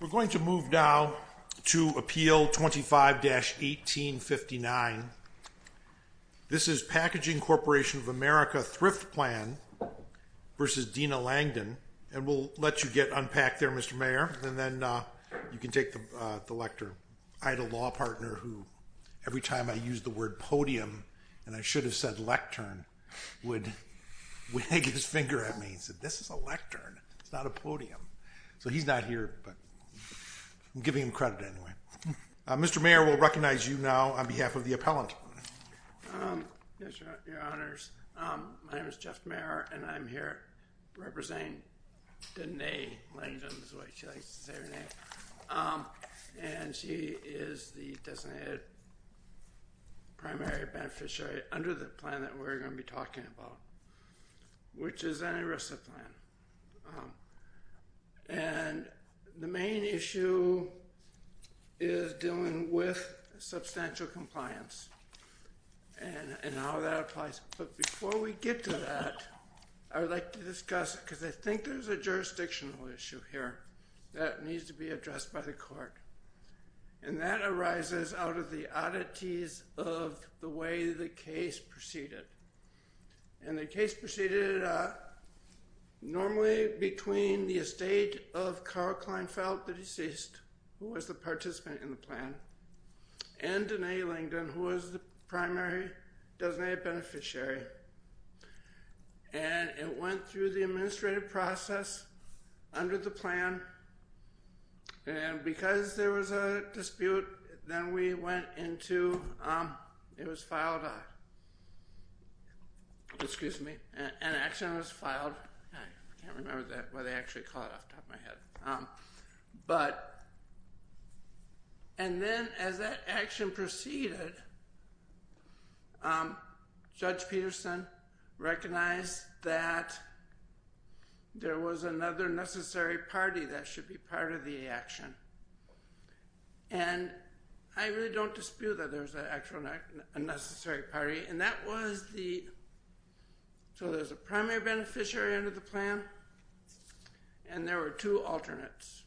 We're going to move now to Appeal 25-1859. This is Packaging Corporation of America Thrift Plan v. Dena Langdon, and we'll let you get unpacked there, Mr. Mayor, and then you can take the lectern. I had a law partner who, every time I used the word podium, and I should have said lectern, would wag his finger at me and said, this is a lectern, it's not a podium. So he's not here, but I'm giving him credit anyway. Mr. Mayor, we'll recognize you now on behalf of the appellant. Yes, Your Honors. My name is Jeff Mayer, and I'm here representing Dena Langdon, is the way she likes to say her name. And she is the designated primary beneficiary under the plan that we're going to be talking about, which is an ERISA plan. And the main issue is dealing with substantial compliance and how that applies. But before we get to that, I would like to discuss, because I think there's a jurisdictional issue here that needs to be addressed by the court. And that arises out of the oddities of the way the case proceeded. And the case proceeded normally between the estate of Carl Kleinfeld, the deceased, who was the participant in the plan, and Dena Langdon, who was the primary designated beneficiary. And it went through the administrative process under the plan. And because there was a dispute, then we went into, it was filed, excuse me, an action was filed. I can't remember that, why they actually call it off the top of my head. But, and then as that action proceeded, Judge Peterson recognized that there was another necessary party that should be part of the action. And I really don't dispute that there's an actual necessary party. And that was the, so there's a primary beneficiary under the plan, and there were two alternates.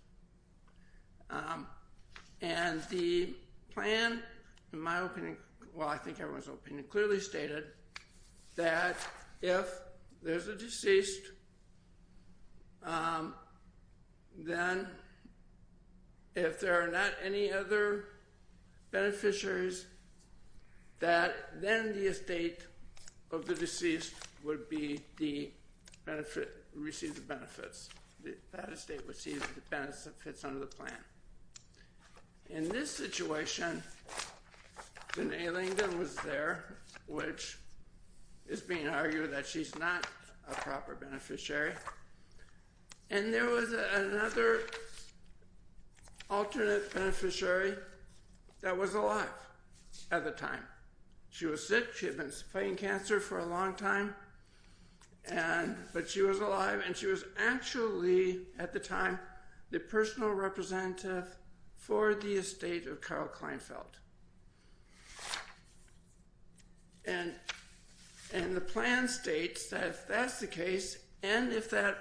And the plan, in my opinion, well I think everyone's opinion, clearly stated that if there's a deceased, then if there are not any other beneficiaries, that then the estate of the deceased would be the benefit, receive the benefits. That estate would receive the benefits under the plan. In this situation, Dena Langdon was there, which is being argued that she's not a proper beneficiary. And there was another alternate beneficiary that was alive at the time. She was sick, she had been fighting cancer for a long time. And, but she was alive, and she was actually, at the time, the personal representative for the estate of Carl Kleinfeld. And, and the plan states that if that's the case, and if that,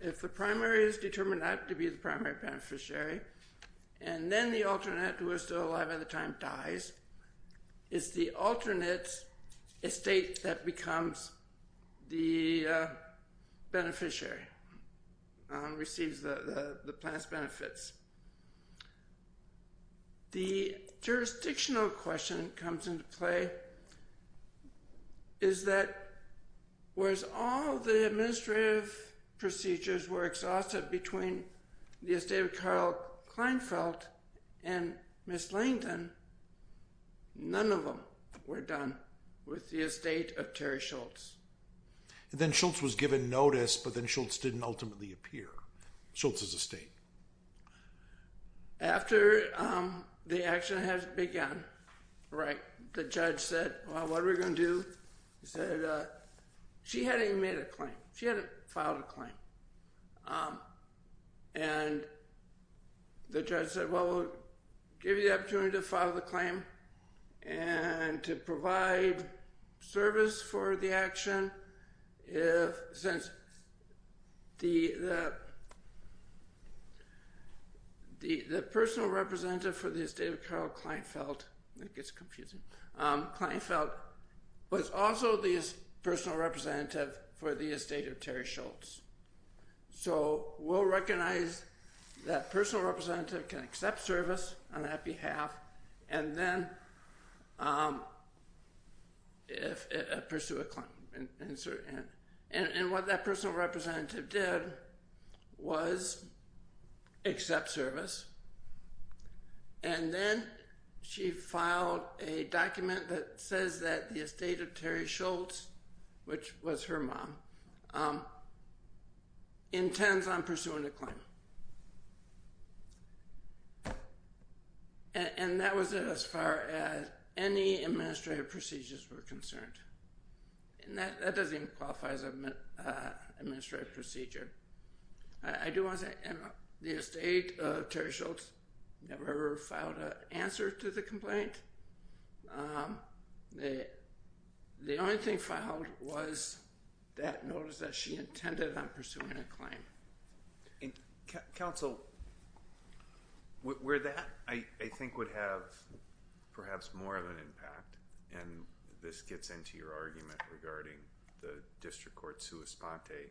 if the primary is determined not to be the primary beneficiary, and then the alternate, who was still alive at the time, dies, it's the alternate estate that becomes the beneficiary, receives the plan's benefits. The jurisdictional question comes into play, is that whereas all the administrative procedures were exhausted between the estate of Carl Kleinfeld and Miss Langdon, none of them were done with the estate of Terri Schultz. And then Schultz was given notice, but then Schultz didn't ultimately appear, Schultz's estate. After the action had begun, right, the judge said, well, what are we going to do? He said, she hadn't even made a claim. She hadn't filed a claim. And the judge said, well, we'll give you the opportunity to file the claim and to provide service for the action if, since the, the, the personal representative for the estate of Carl Kleinfeld, that gets confusing, Kleinfeld was also the personal representative for the estate of Terri Schultz. So we'll recognize that personal representative can accept service on that behalf, and then pursue a claim. And what that personal representative did was accept service. And then she filed a document that says that the estate of Terri Schultz, which was her mom, intends on pursuing a claim. And that was it as far as any administrative procedures were concerned. And that doesn't even qualify as an administrative procedure. I do want to say, the estate of Terri Schultz never filed an answer to the complaint. The only thing filed was that notice that she intended on pursuing a claim. And counsel, where that, I think, would have perhaps more of an impact, and this gets into your argument regarding the District Court's sua sponte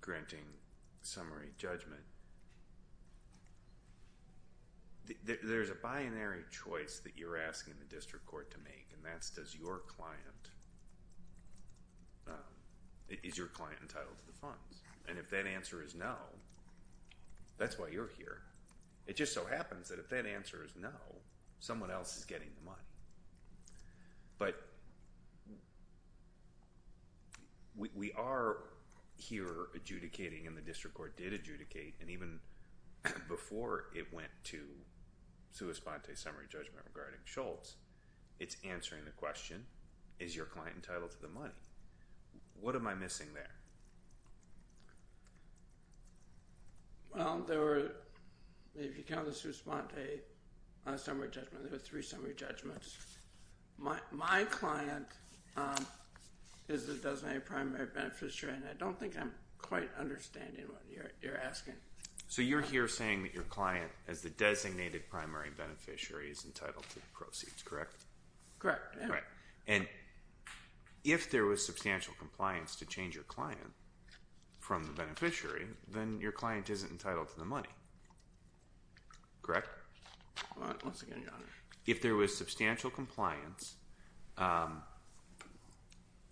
granting summary judgment. There's a binary choice that you're asking the District Court to make, and that's does your client, is your client entitled to the funds? And if that answer is no, that's why you're here. It just so happens that if that answer is no, someone else is getting the money. But we are here adjudicating, and the District Court did adjudicate, and even before it went to sua sponte summary judgment regarding Schultz, it's answering the question, is your client entitled to the money? What am I missing there? Well, there were, if you count the sua sponte summary judgment, there were three summary judgments. My client is the designated primary beneficiary, and I don't think I'm quite understanding what you're asking. So you're here saying that your client, as the designated primary beneficiary, is entitled to the proceeds, correct? Correct. And if there was substantial compliance to change your client from the beneficiary, then your client isn't entitled to the money, correct? Once again, no. If there was substantial compliance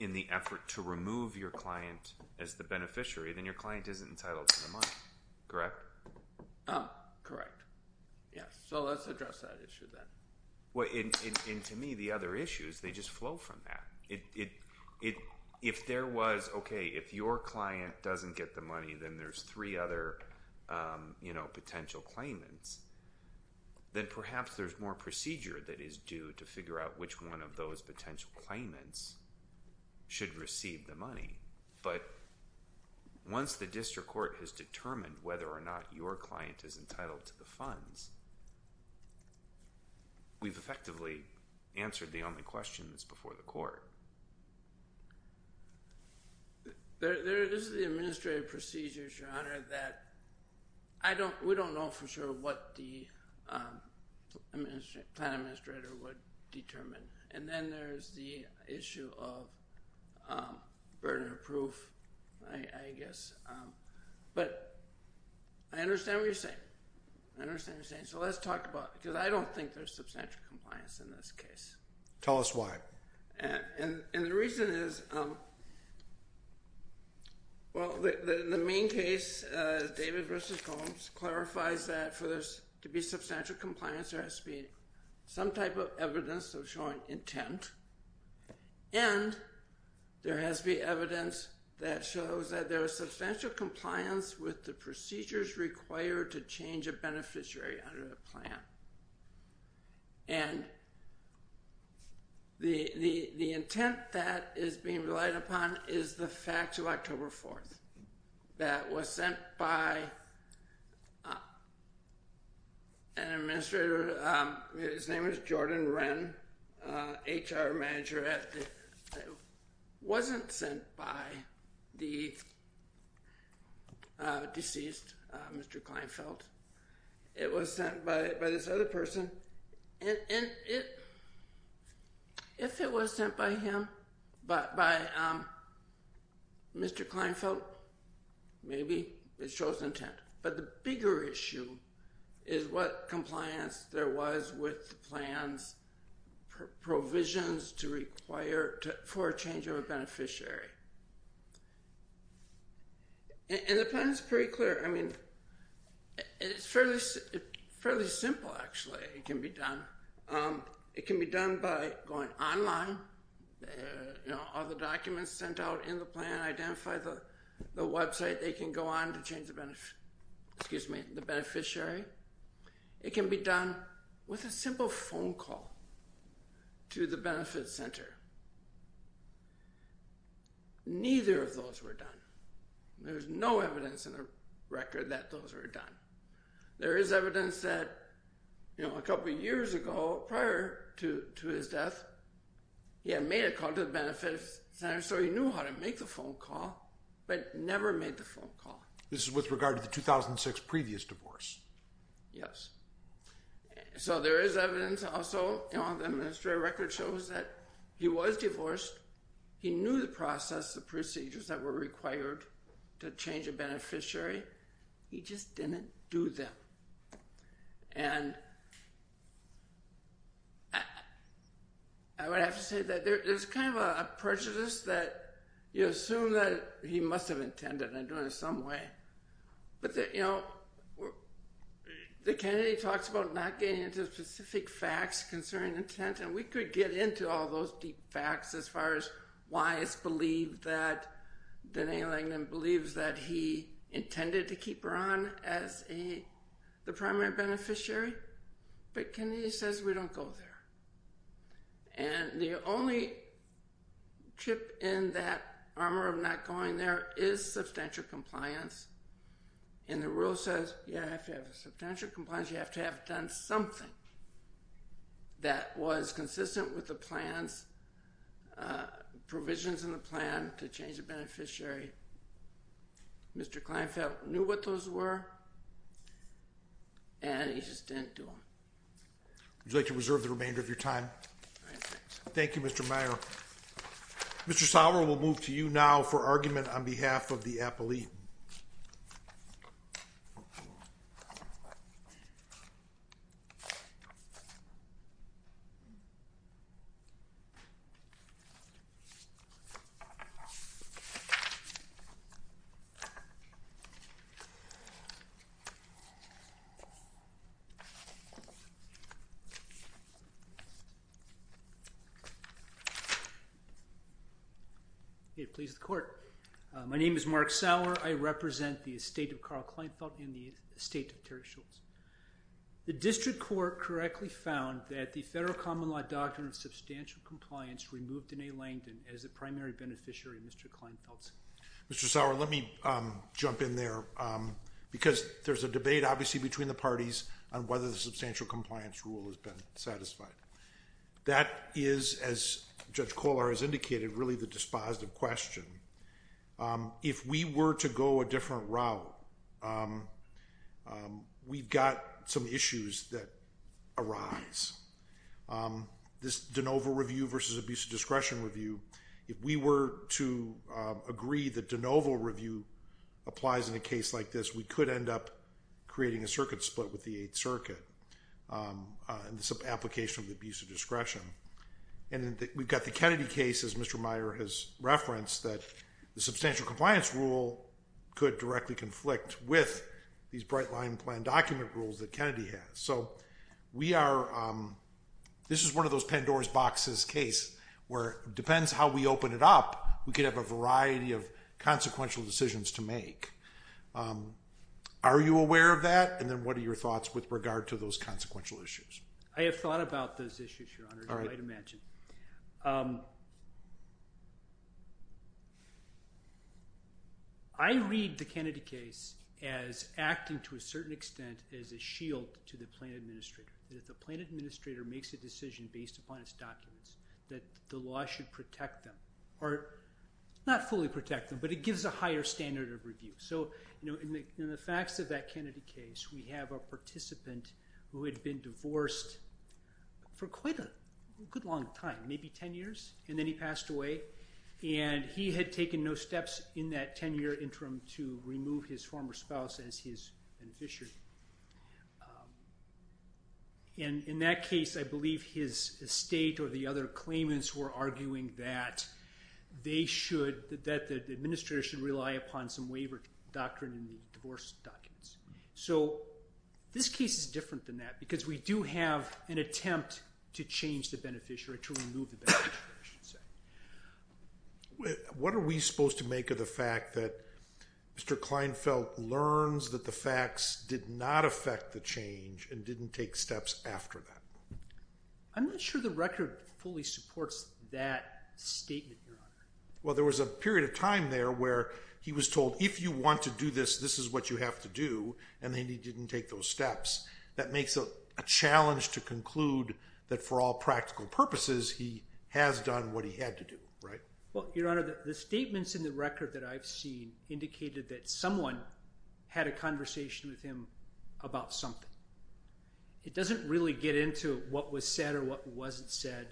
in the effort to remove your client as the beneficiary, then your client isn't entitled to the money, correct? Correct. So let's address that issue then. And to me, the other issues, they just flow from that. If there was, okay, if your client doesn't get the money, then there's three other potential claimants, then perhaps there's more procedure that is due to figure out which one of those potential claimants should receive the money. But once the district court has determined whether or not your client is entitled to the funds, we've effectively answered the only question that's before the court. There is the administrative procedures, Your Honor, that we don't know for sure what the client administrator would determine. And then there's the issue of burden of proof, I guess. But I understand what you're saying. I understand what you're saying. So let's talk about it, because I don't think there's substantial compliance in this case. Tell us why. And the reason is, well, the main case, David v. Holmes, clarifies that for there to be substantial compliance, there has to be some type of evidence of showing intent. And there has to be evidence that shows that there is substantial compliance with the procedures required to change a beneficiary under the plan. And the intent that is being relied upon is the facts of October 4th that was sent by an administrator. His name is Jordan Wren, HR manager. It wasn't sent by the deceased, Mr. Kleinfeld. It was sent by this other person. And if it was sent by him, by Mr. Kleinfeld, maybe it shows intent. But the bigger issue is what compliance there was with the plans, provisions to require for a change of a beneficiary. And the plan is pretty clear. It's fairly simple, actually. It can be done. It can be done by going online, all the documents sent out in the plan, identify the website, they can go on to change the beneficiary. It can be done with a simple phone call to the benefit center. Neither of those were done. There's no evidence in the record that those were done. There is evidence that a couple of years ago, prior to his death, he had made a call to the benefit center, so he knew how to make the phone call, but never made the phone call. This is with regard to the 2006 previous divorce. Yes. So there is evidence also, the administrative record shows that he was divorced, he knew the process, the procedures that were required to change a beneficiary, he just didn't do them. And I would have to say that there's kind of a prejudice that you assume that he must have intended on doing it some way. But, you know, the candidate talks about not getting into specific facts and we could get into all those deep facts as far as why it's believed that Denae Langdon believes that he intended to keep her on as the primary beneficiary, but Kennedy says we don't go there. And the only chip in that armor of not going there is substantial compliance. And the rule says you have to have substantial compliance, you have to have done something. That was consistent with the plans, provisions in the plan to change a beneficiary. Mr. Kleinfeld knew what those were and he just didn't do them. Would you like to reserve the remainder of your time? Thank you, Mr. Meyer. Mr. Sauer, we'll move to you now for argument on behalf of the appellee. Mr. Sauer. May it please the Court. My name is Mark Sauer. I represent the estate of Carl Kleinfeld and the estate of Terry Schultz. The District Court correctly found that the Federal Common Law Doctrine of Substantial Compliance removed Denae Langdon as the primary beneficiary, Mr. Kleinfeld. Mr. Sauer, let me jump in there because there's a debate, obviously, between the parties on whether the substantial compliance rule has been satisfied. That is, as Judge Kollar has indicated, really the dispositive question. If we were to go a different route, we've got some issues that arise. This de novo review versus abuse of discretion review, if we were to agree that de novo review applies in a case like this, we could end up creating a circuit split with the Eighth Circuit in this application of the abuse of discretion. And we've got the Kennedy case, as Mr. Meyer has referenced, that the substantial compliance rule could directly conflict with these bright-line plan document rules that Kennedy has. So we are, this is one of those Pandora's boxes case, where it depends how we open it up, we could have a variety of consequential decisions to make. Are you aware of that? And then what are your thoughts with regard to those consequential issues? I have thought about those issues, Your Honor, as you might imagine. I read the Kennedy case as acting to a certain extent as a shield to the plan administrator. That if the plan administrator makes a decision based upon its documents, that the law should protect them. Or, not fully protect them, but it gives a higher standard of review. So in the facts of that Kennedy case, we have a participant who had been divorced for quite a good long time, maybe 10 years, and then he passed away. And he had taken no steps in that 10-year interim to remove his former spouse as his beneficiary. And in that case, I believe his estate or the other claimants were arguing that they should, that the administrator should rely upon some waiver doctrine in the divorce documents. So, this case is different than that because we do have an attempt to change the beneficiary, to remove the beneficiary, I should say. What are we supposed to make of the fact that Mr. Kleinfeld learns that the facts did not affect the change and didn't take steps after that? I'm not sure the record fully supports that statement, Your Honor. Well, there was a period of time there where he was told, if you want to do this, this is what you have to do, and then he didn't take those steps. That makes it a challenge to conclude that for all practical purposes he has done what he had to do, right? Well, Your Honor, the statements in the record that I've seen indicated that someone had a conversation with him about something. It doesn't really get into what was said or what wasn't said.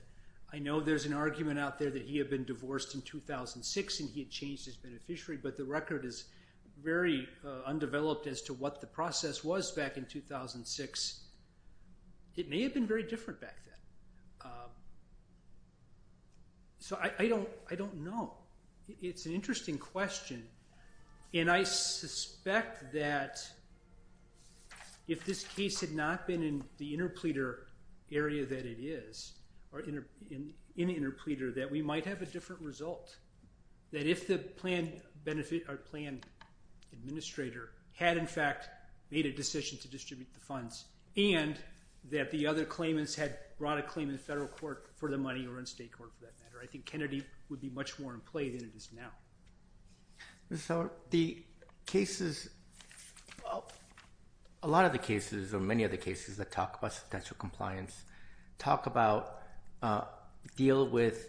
I know there's an argument out there that he had been divorced in 2006 and he had changed his beneficiary, but the record is very undeveloped as to what the process was back in 2006. It may have been very different back then. So, I don't know. It's an interesting question, and I suspect that if this case had not been in the interpleader area that it is, or in the interpleader, that we might have a different result. That if the plan administrator had, in fact, made a decision to distribute the funds and that the other claimants had brought a claim in federal court for the money or in state court for that matter, I think Kennedy would be much more in play than it is now. Mr. Sauer, the cases, a lot of the cases or many of the cases that talk about substantial compliance deal with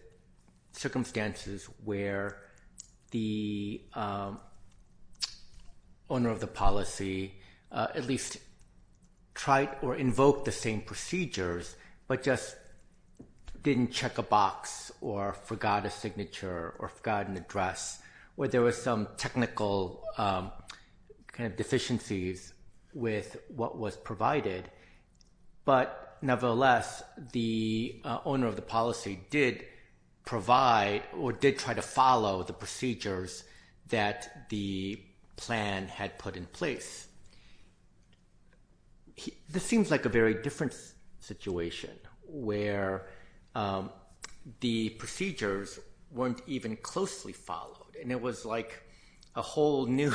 circumstances where the owner of the policy at least tried or invoked the same procedures but just didn't check a box or forgot a signature or forgot an address, where there was some technical deficiencies with what was provided. But nevertheless, the owner of the policy did provide or did try to follow the procedures that the plan had put in place. This seems like a very different situation where the procedures weren't even closely followed, and it was like a whole new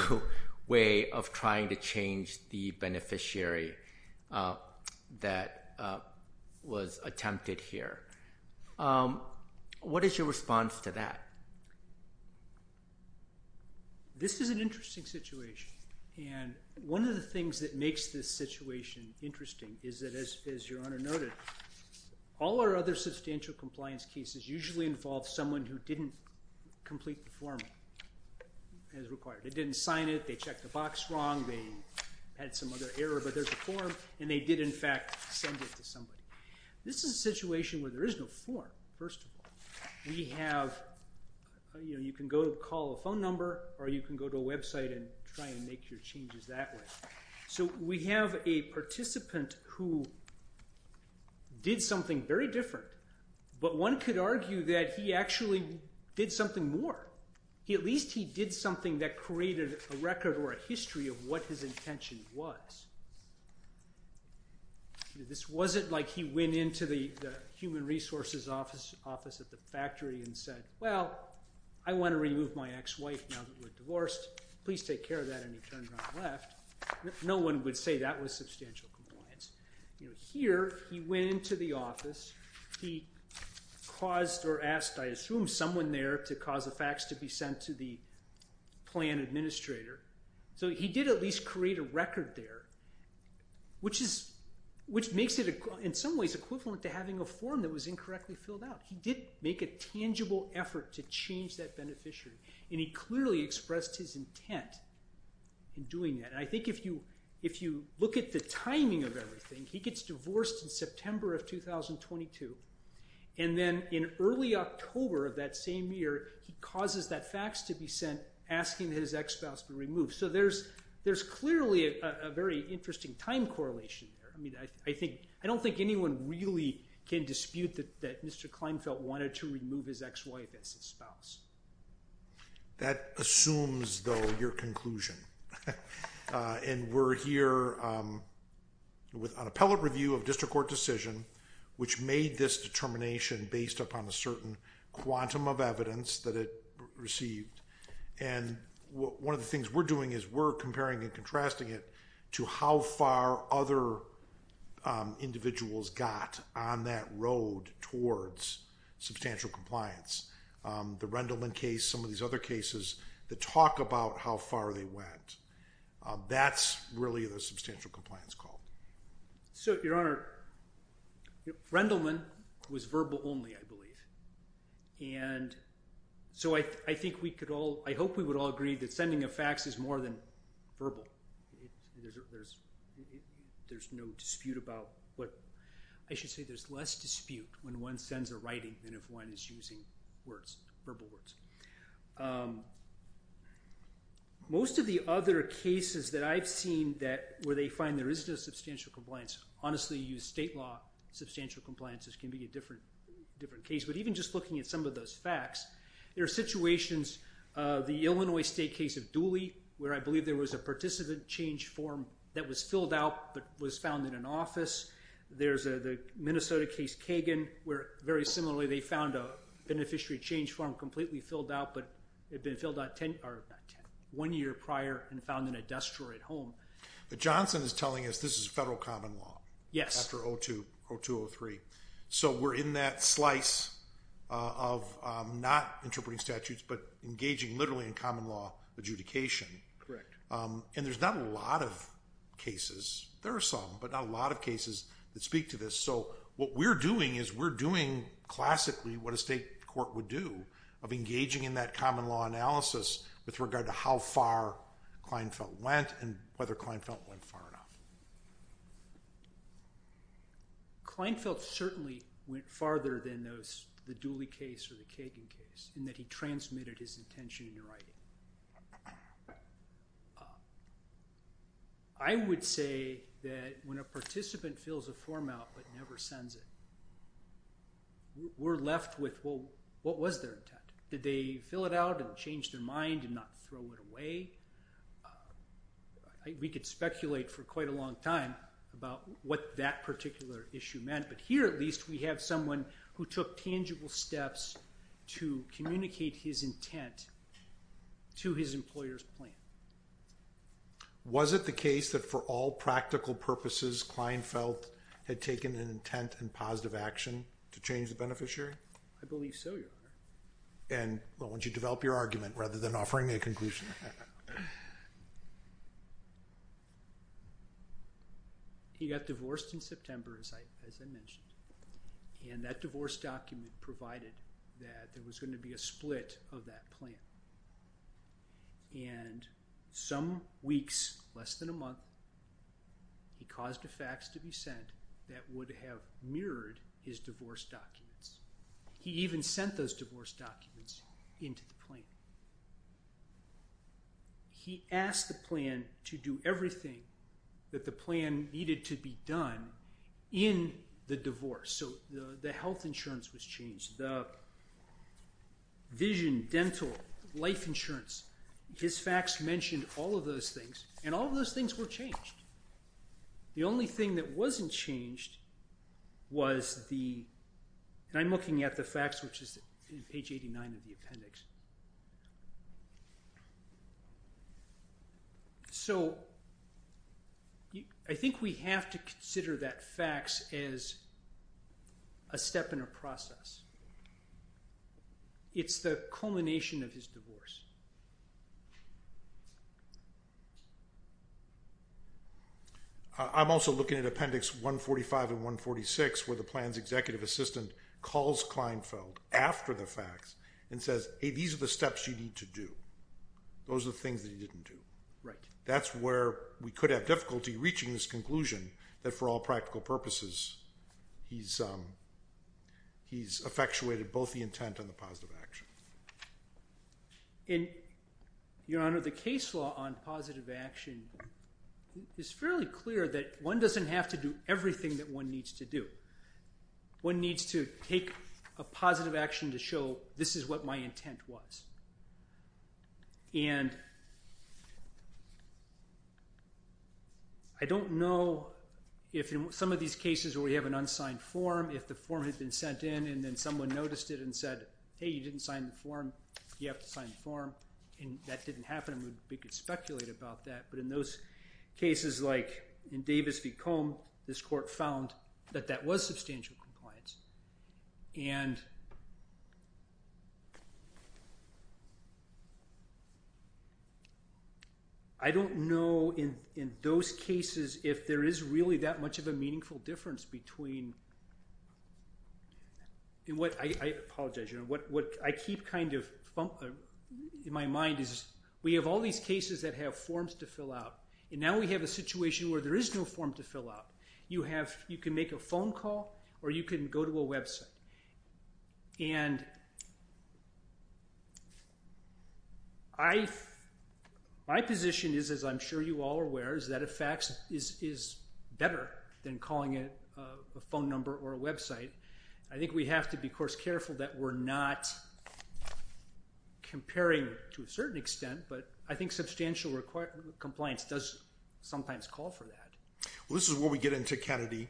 way of trying to change the beneficiary that was attempted here. What is your response to that? This is an interesting situation, and one of the things that makes this situation interesting is that as your Honor noted, all our other substantial compliance cases usually involve someone who didn't complete the form as required. They didn't sign it. They checked the box wrong. They had some other error, but there's a form, and they did in fact send it to somebody. This is a situation where there is no form, first of all. We have, you know, you can go call a phone number or you can go to a website and try and make your changes that way. So we have a participant who did something very different, but one could argue that he actually did something more. At least he did something that created a record or a history of what his intention was. This wasn't like he went into the human resources office at the factory and said, well, I want to remove my ex-wife now that we're divorced. Please take care of that, and he turned around and left. No one would say that was substantial compliance. Here he went into the office. He caused or asked, I assume, someone there to cause a fax to be sent to the plan administrator. So he did at least create a record there, which makes it in some ways equivalent to having a form that was incorrectly filled out. He did make a tangible effort to change that beneficiary, and he clearly expressed his intent in doing that. I think if you look at the timing of everything, he gets divorced in September of 2022, and then in early October of that same year, he causes that fax to be sent asking his ex-spouse to be removed. So there's clearly a very interesting time correlation there. I mean, I don't think anyone really can dispute that Mr. Kleinfeld wanted to remove his ex-wife as his spouse. That assumes, though, your conclusion. And we're here with an appellate review of district court decision which made this determination based upon a certain quantum of evidence that it received. And one of the things we're doing is we're comparing and contrasting it to how far other individuals got on that road towards substantial compliance. The Rendleman case, some of these other cases, that talk about how far they went. That's really the substantial compliance call. So, Your Honor, Rendleman was verbal only, I believe. And so I think we could all... I hope we would all agree that sending a fax is more than verbal. There's no dispute about what... I should say there's less dispute when one sends a writing than if one is using words, verbal words. Most of the other cases that I've seen where they find there isn't a substantial compliance, honestly, you use state law, substantial compliances can be a different case. But even just looking at some of those fax, there are situations, the Illinois State case of Dooley, where I believe there was a participant change form that was filled out but was found in an office. There's the Minnesota case, Kagan, where very similarly they found a beneficiary change form completely filled out, but it had been filled out one year prior and found in a dust drawer at home. But Johnson is telling us this is federal common law. Yes. After 02, 02, 03. So we're in that slice of not interpreting statutes but engaging literally in common law adjudication. Correct. And there's not a lot of cases. There are some, but not a lot of cases that speak to this. So what we're doing is we're doing classically what a state court would do of engaging in that common law analysis with regard to how far Kleinfeld went and whether Kleinfeld went far enough. Kleinfeld certainly went farther than the Dooley case or the Kagan case in that he transmitted his intention in writing. I would say that when a participant fills a form out but never sends it, we're left with, well, what was their intent? Did they fill it out and change their mind and not throw it away? We could speculate for quite a long time about what that particular issue meant, but here at least we have someone who took tangible steps to communicate his intent to his employer's plan. Was it the case that for all practical purposes Kleinfeld had taken an intent and positive action to change the beneficiary? I believe so, Your Honor. And I want you to develop your argument rather than offering a conclusion. He got divorced in September, as I mentioned, and that divorce document provided that there was going to be a split of that plan. And some weeks, less than a month, he caused a fax to be sent that would have mirrored his divorce documents. He even sent those divorce documents into the plan. He asked the plan to do everything that the plan needed to be done in the divorce. So the health insurance was changed, the vision, dental, life insurance. His fax mentioned all of those things, and all of those things were changed. The only thing that wasn't changed was the... And I'm looking at the fax, which is page 89 of the appendix. So... I think we have to consider that fax as a step in a process. It's the culmination of his divorce. I'm also looking at appendix 145 and 146, where the plan's executive assistant calls Kleinfeld after the fax and says, hey, these are the steps you need to do. Those are the things that he didn't do. That's where we could have difficulty reaching this conclusion that, for all practical purposes, he's effectuated both the intent and the positive action. Your Honor, the case law on positive action is fairly clear that one doesn't have to do everything that one needs to do. One needs to take a positive action to show this is what my intent was. And... I don't know if in some of these cases where we have an unsigned form, if the form had been sent in and then someone noticed it and said, hey, you didn't sign the form, you have to sign the form, and that didn't happen, and we could speculate about that. But in those cases, like in Davis v. Combe, this court found that that was substantial compliance. And... I don't know in those cases if there is really that much of a meaningful difference between... I apologize, Your Honor. What I keep kind of in my mind is we have all these cases that have forms to fill out, and now we have a situation where there is no form to fill out. You can make a phone call or you can go to a website. And... I... My position is, as I'm sure you all are aware, is that a fax is better than calling a phone number or a website. I think we have to be, of course, careful that we're not comparing to a certain extent, but I think substantial compliance does sometimes call for that. Well, this is where we get into Kennedy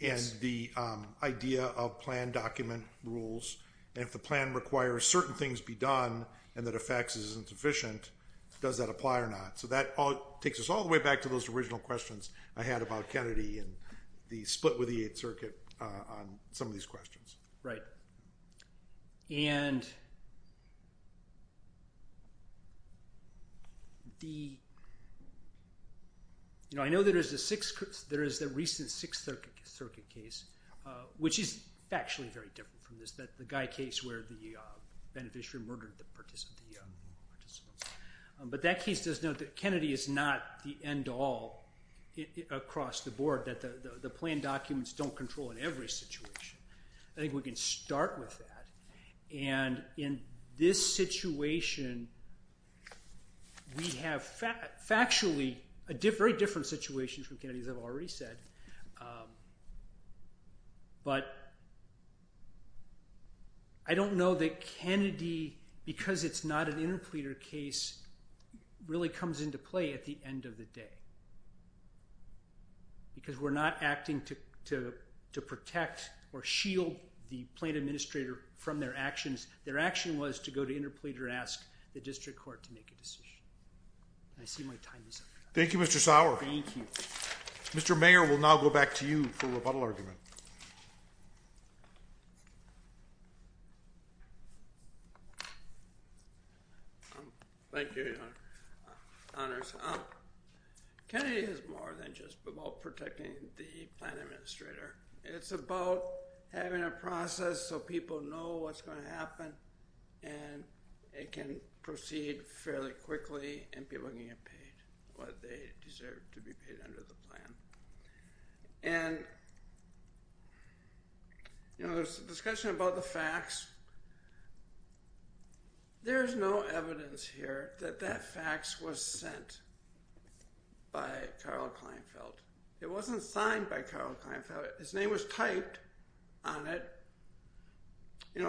and the idea of plan-document rules, and if the plan requires certain things be done and that a fax isn't sufficient, does that apply or not? So that takes us all the way back to those original questions I had about Kennedy and the split with the Eighth Circuit on some of these questions. Right. And... The... You know, I know there is the recent Sixth Circuit case, which is factually very different from this, the Guy case where the beneficiary murdered the participants. But that case does note that Kennedy is not the end-all across the board, that the plan documents don't control in every situation. I think we can start with that. And in this situation, we have factually very different situations from Kennedy's I've already said. But... I don't know that Kennedy, because it's not an interpleader case, really comes into play at the end of the day. Because we're not acting to protect or shield the plan administrator from their actions. Their action was to go to interpleader and ask the district court to make a decision. I see my time is up. Thank you, Mr. Sauer. Thank you. Mr. Mayor, we'll now go back to you for a rebuttal argument. Thank you, Your Honors. Kennedy is more than just about protecting the plan administrator. It's about having a process so people know what's going to happen. And it can proceed fairly quickly and people can get paid what they deserve to be paid under the plan. And, you know, there's a discussion about the fax. There's no evidence here that that fax was sent by Karl Kleinfeld. It wasn't signed by Karl Kleinfeld. His name was typed on it. If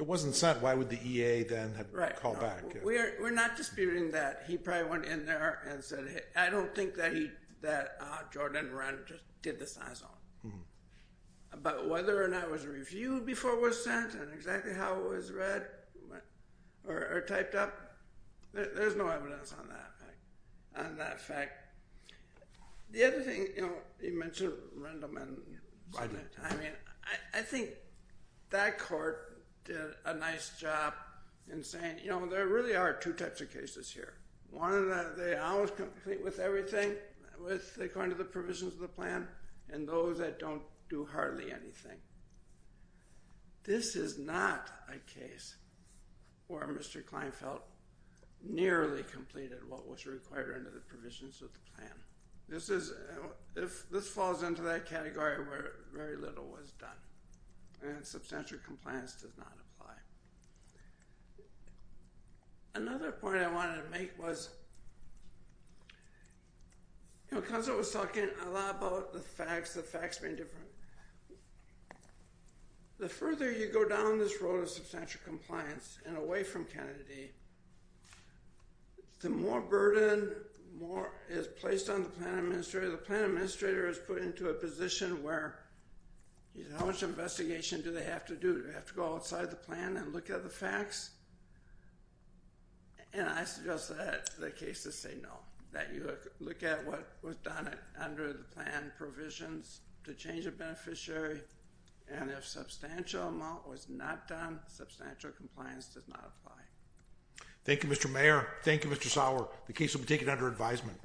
it wasn't sent, why would the EA then have called back? We're not disputing that. He probably went in there and said, I don't think that Jordan Ren just did this on his own. But whether or not it was reviewed before it was sent and exactly how it was read or typed up, there's no evidence on that fact. The other thing, you know, you mentioned Rendam. I mean, I think that court did a nice job in saying, you know, there really are two types of cases here. One of them, they always complete with everything according to the provisions of the plan, and those that don't do hardly anything. This is not a case where Mr. Kleinfeld nearly completed what was required under the provisions of the plan. This falls into that category where very little was done, and substantial compliance does not apply. Another point I wanted to make was, you know, because I was talking a lot about the fax, the fax being different, the further you go down this road of substantial compliance and away from Kennedy, the more burden is placed on the plan administrator. The plan administrator is put into a position where how much investigation do they have to do? Do they have to go outside the plan and look at the fax? And I suggest that the cases say no, that you look at what was done under the plan provisions to change a beneficiary, and if substantial amount was not done, substantial compliance does not apply. Thank you, Mr. Mayor. Thank you, Mr. Sauer. The case will be taken under advisement.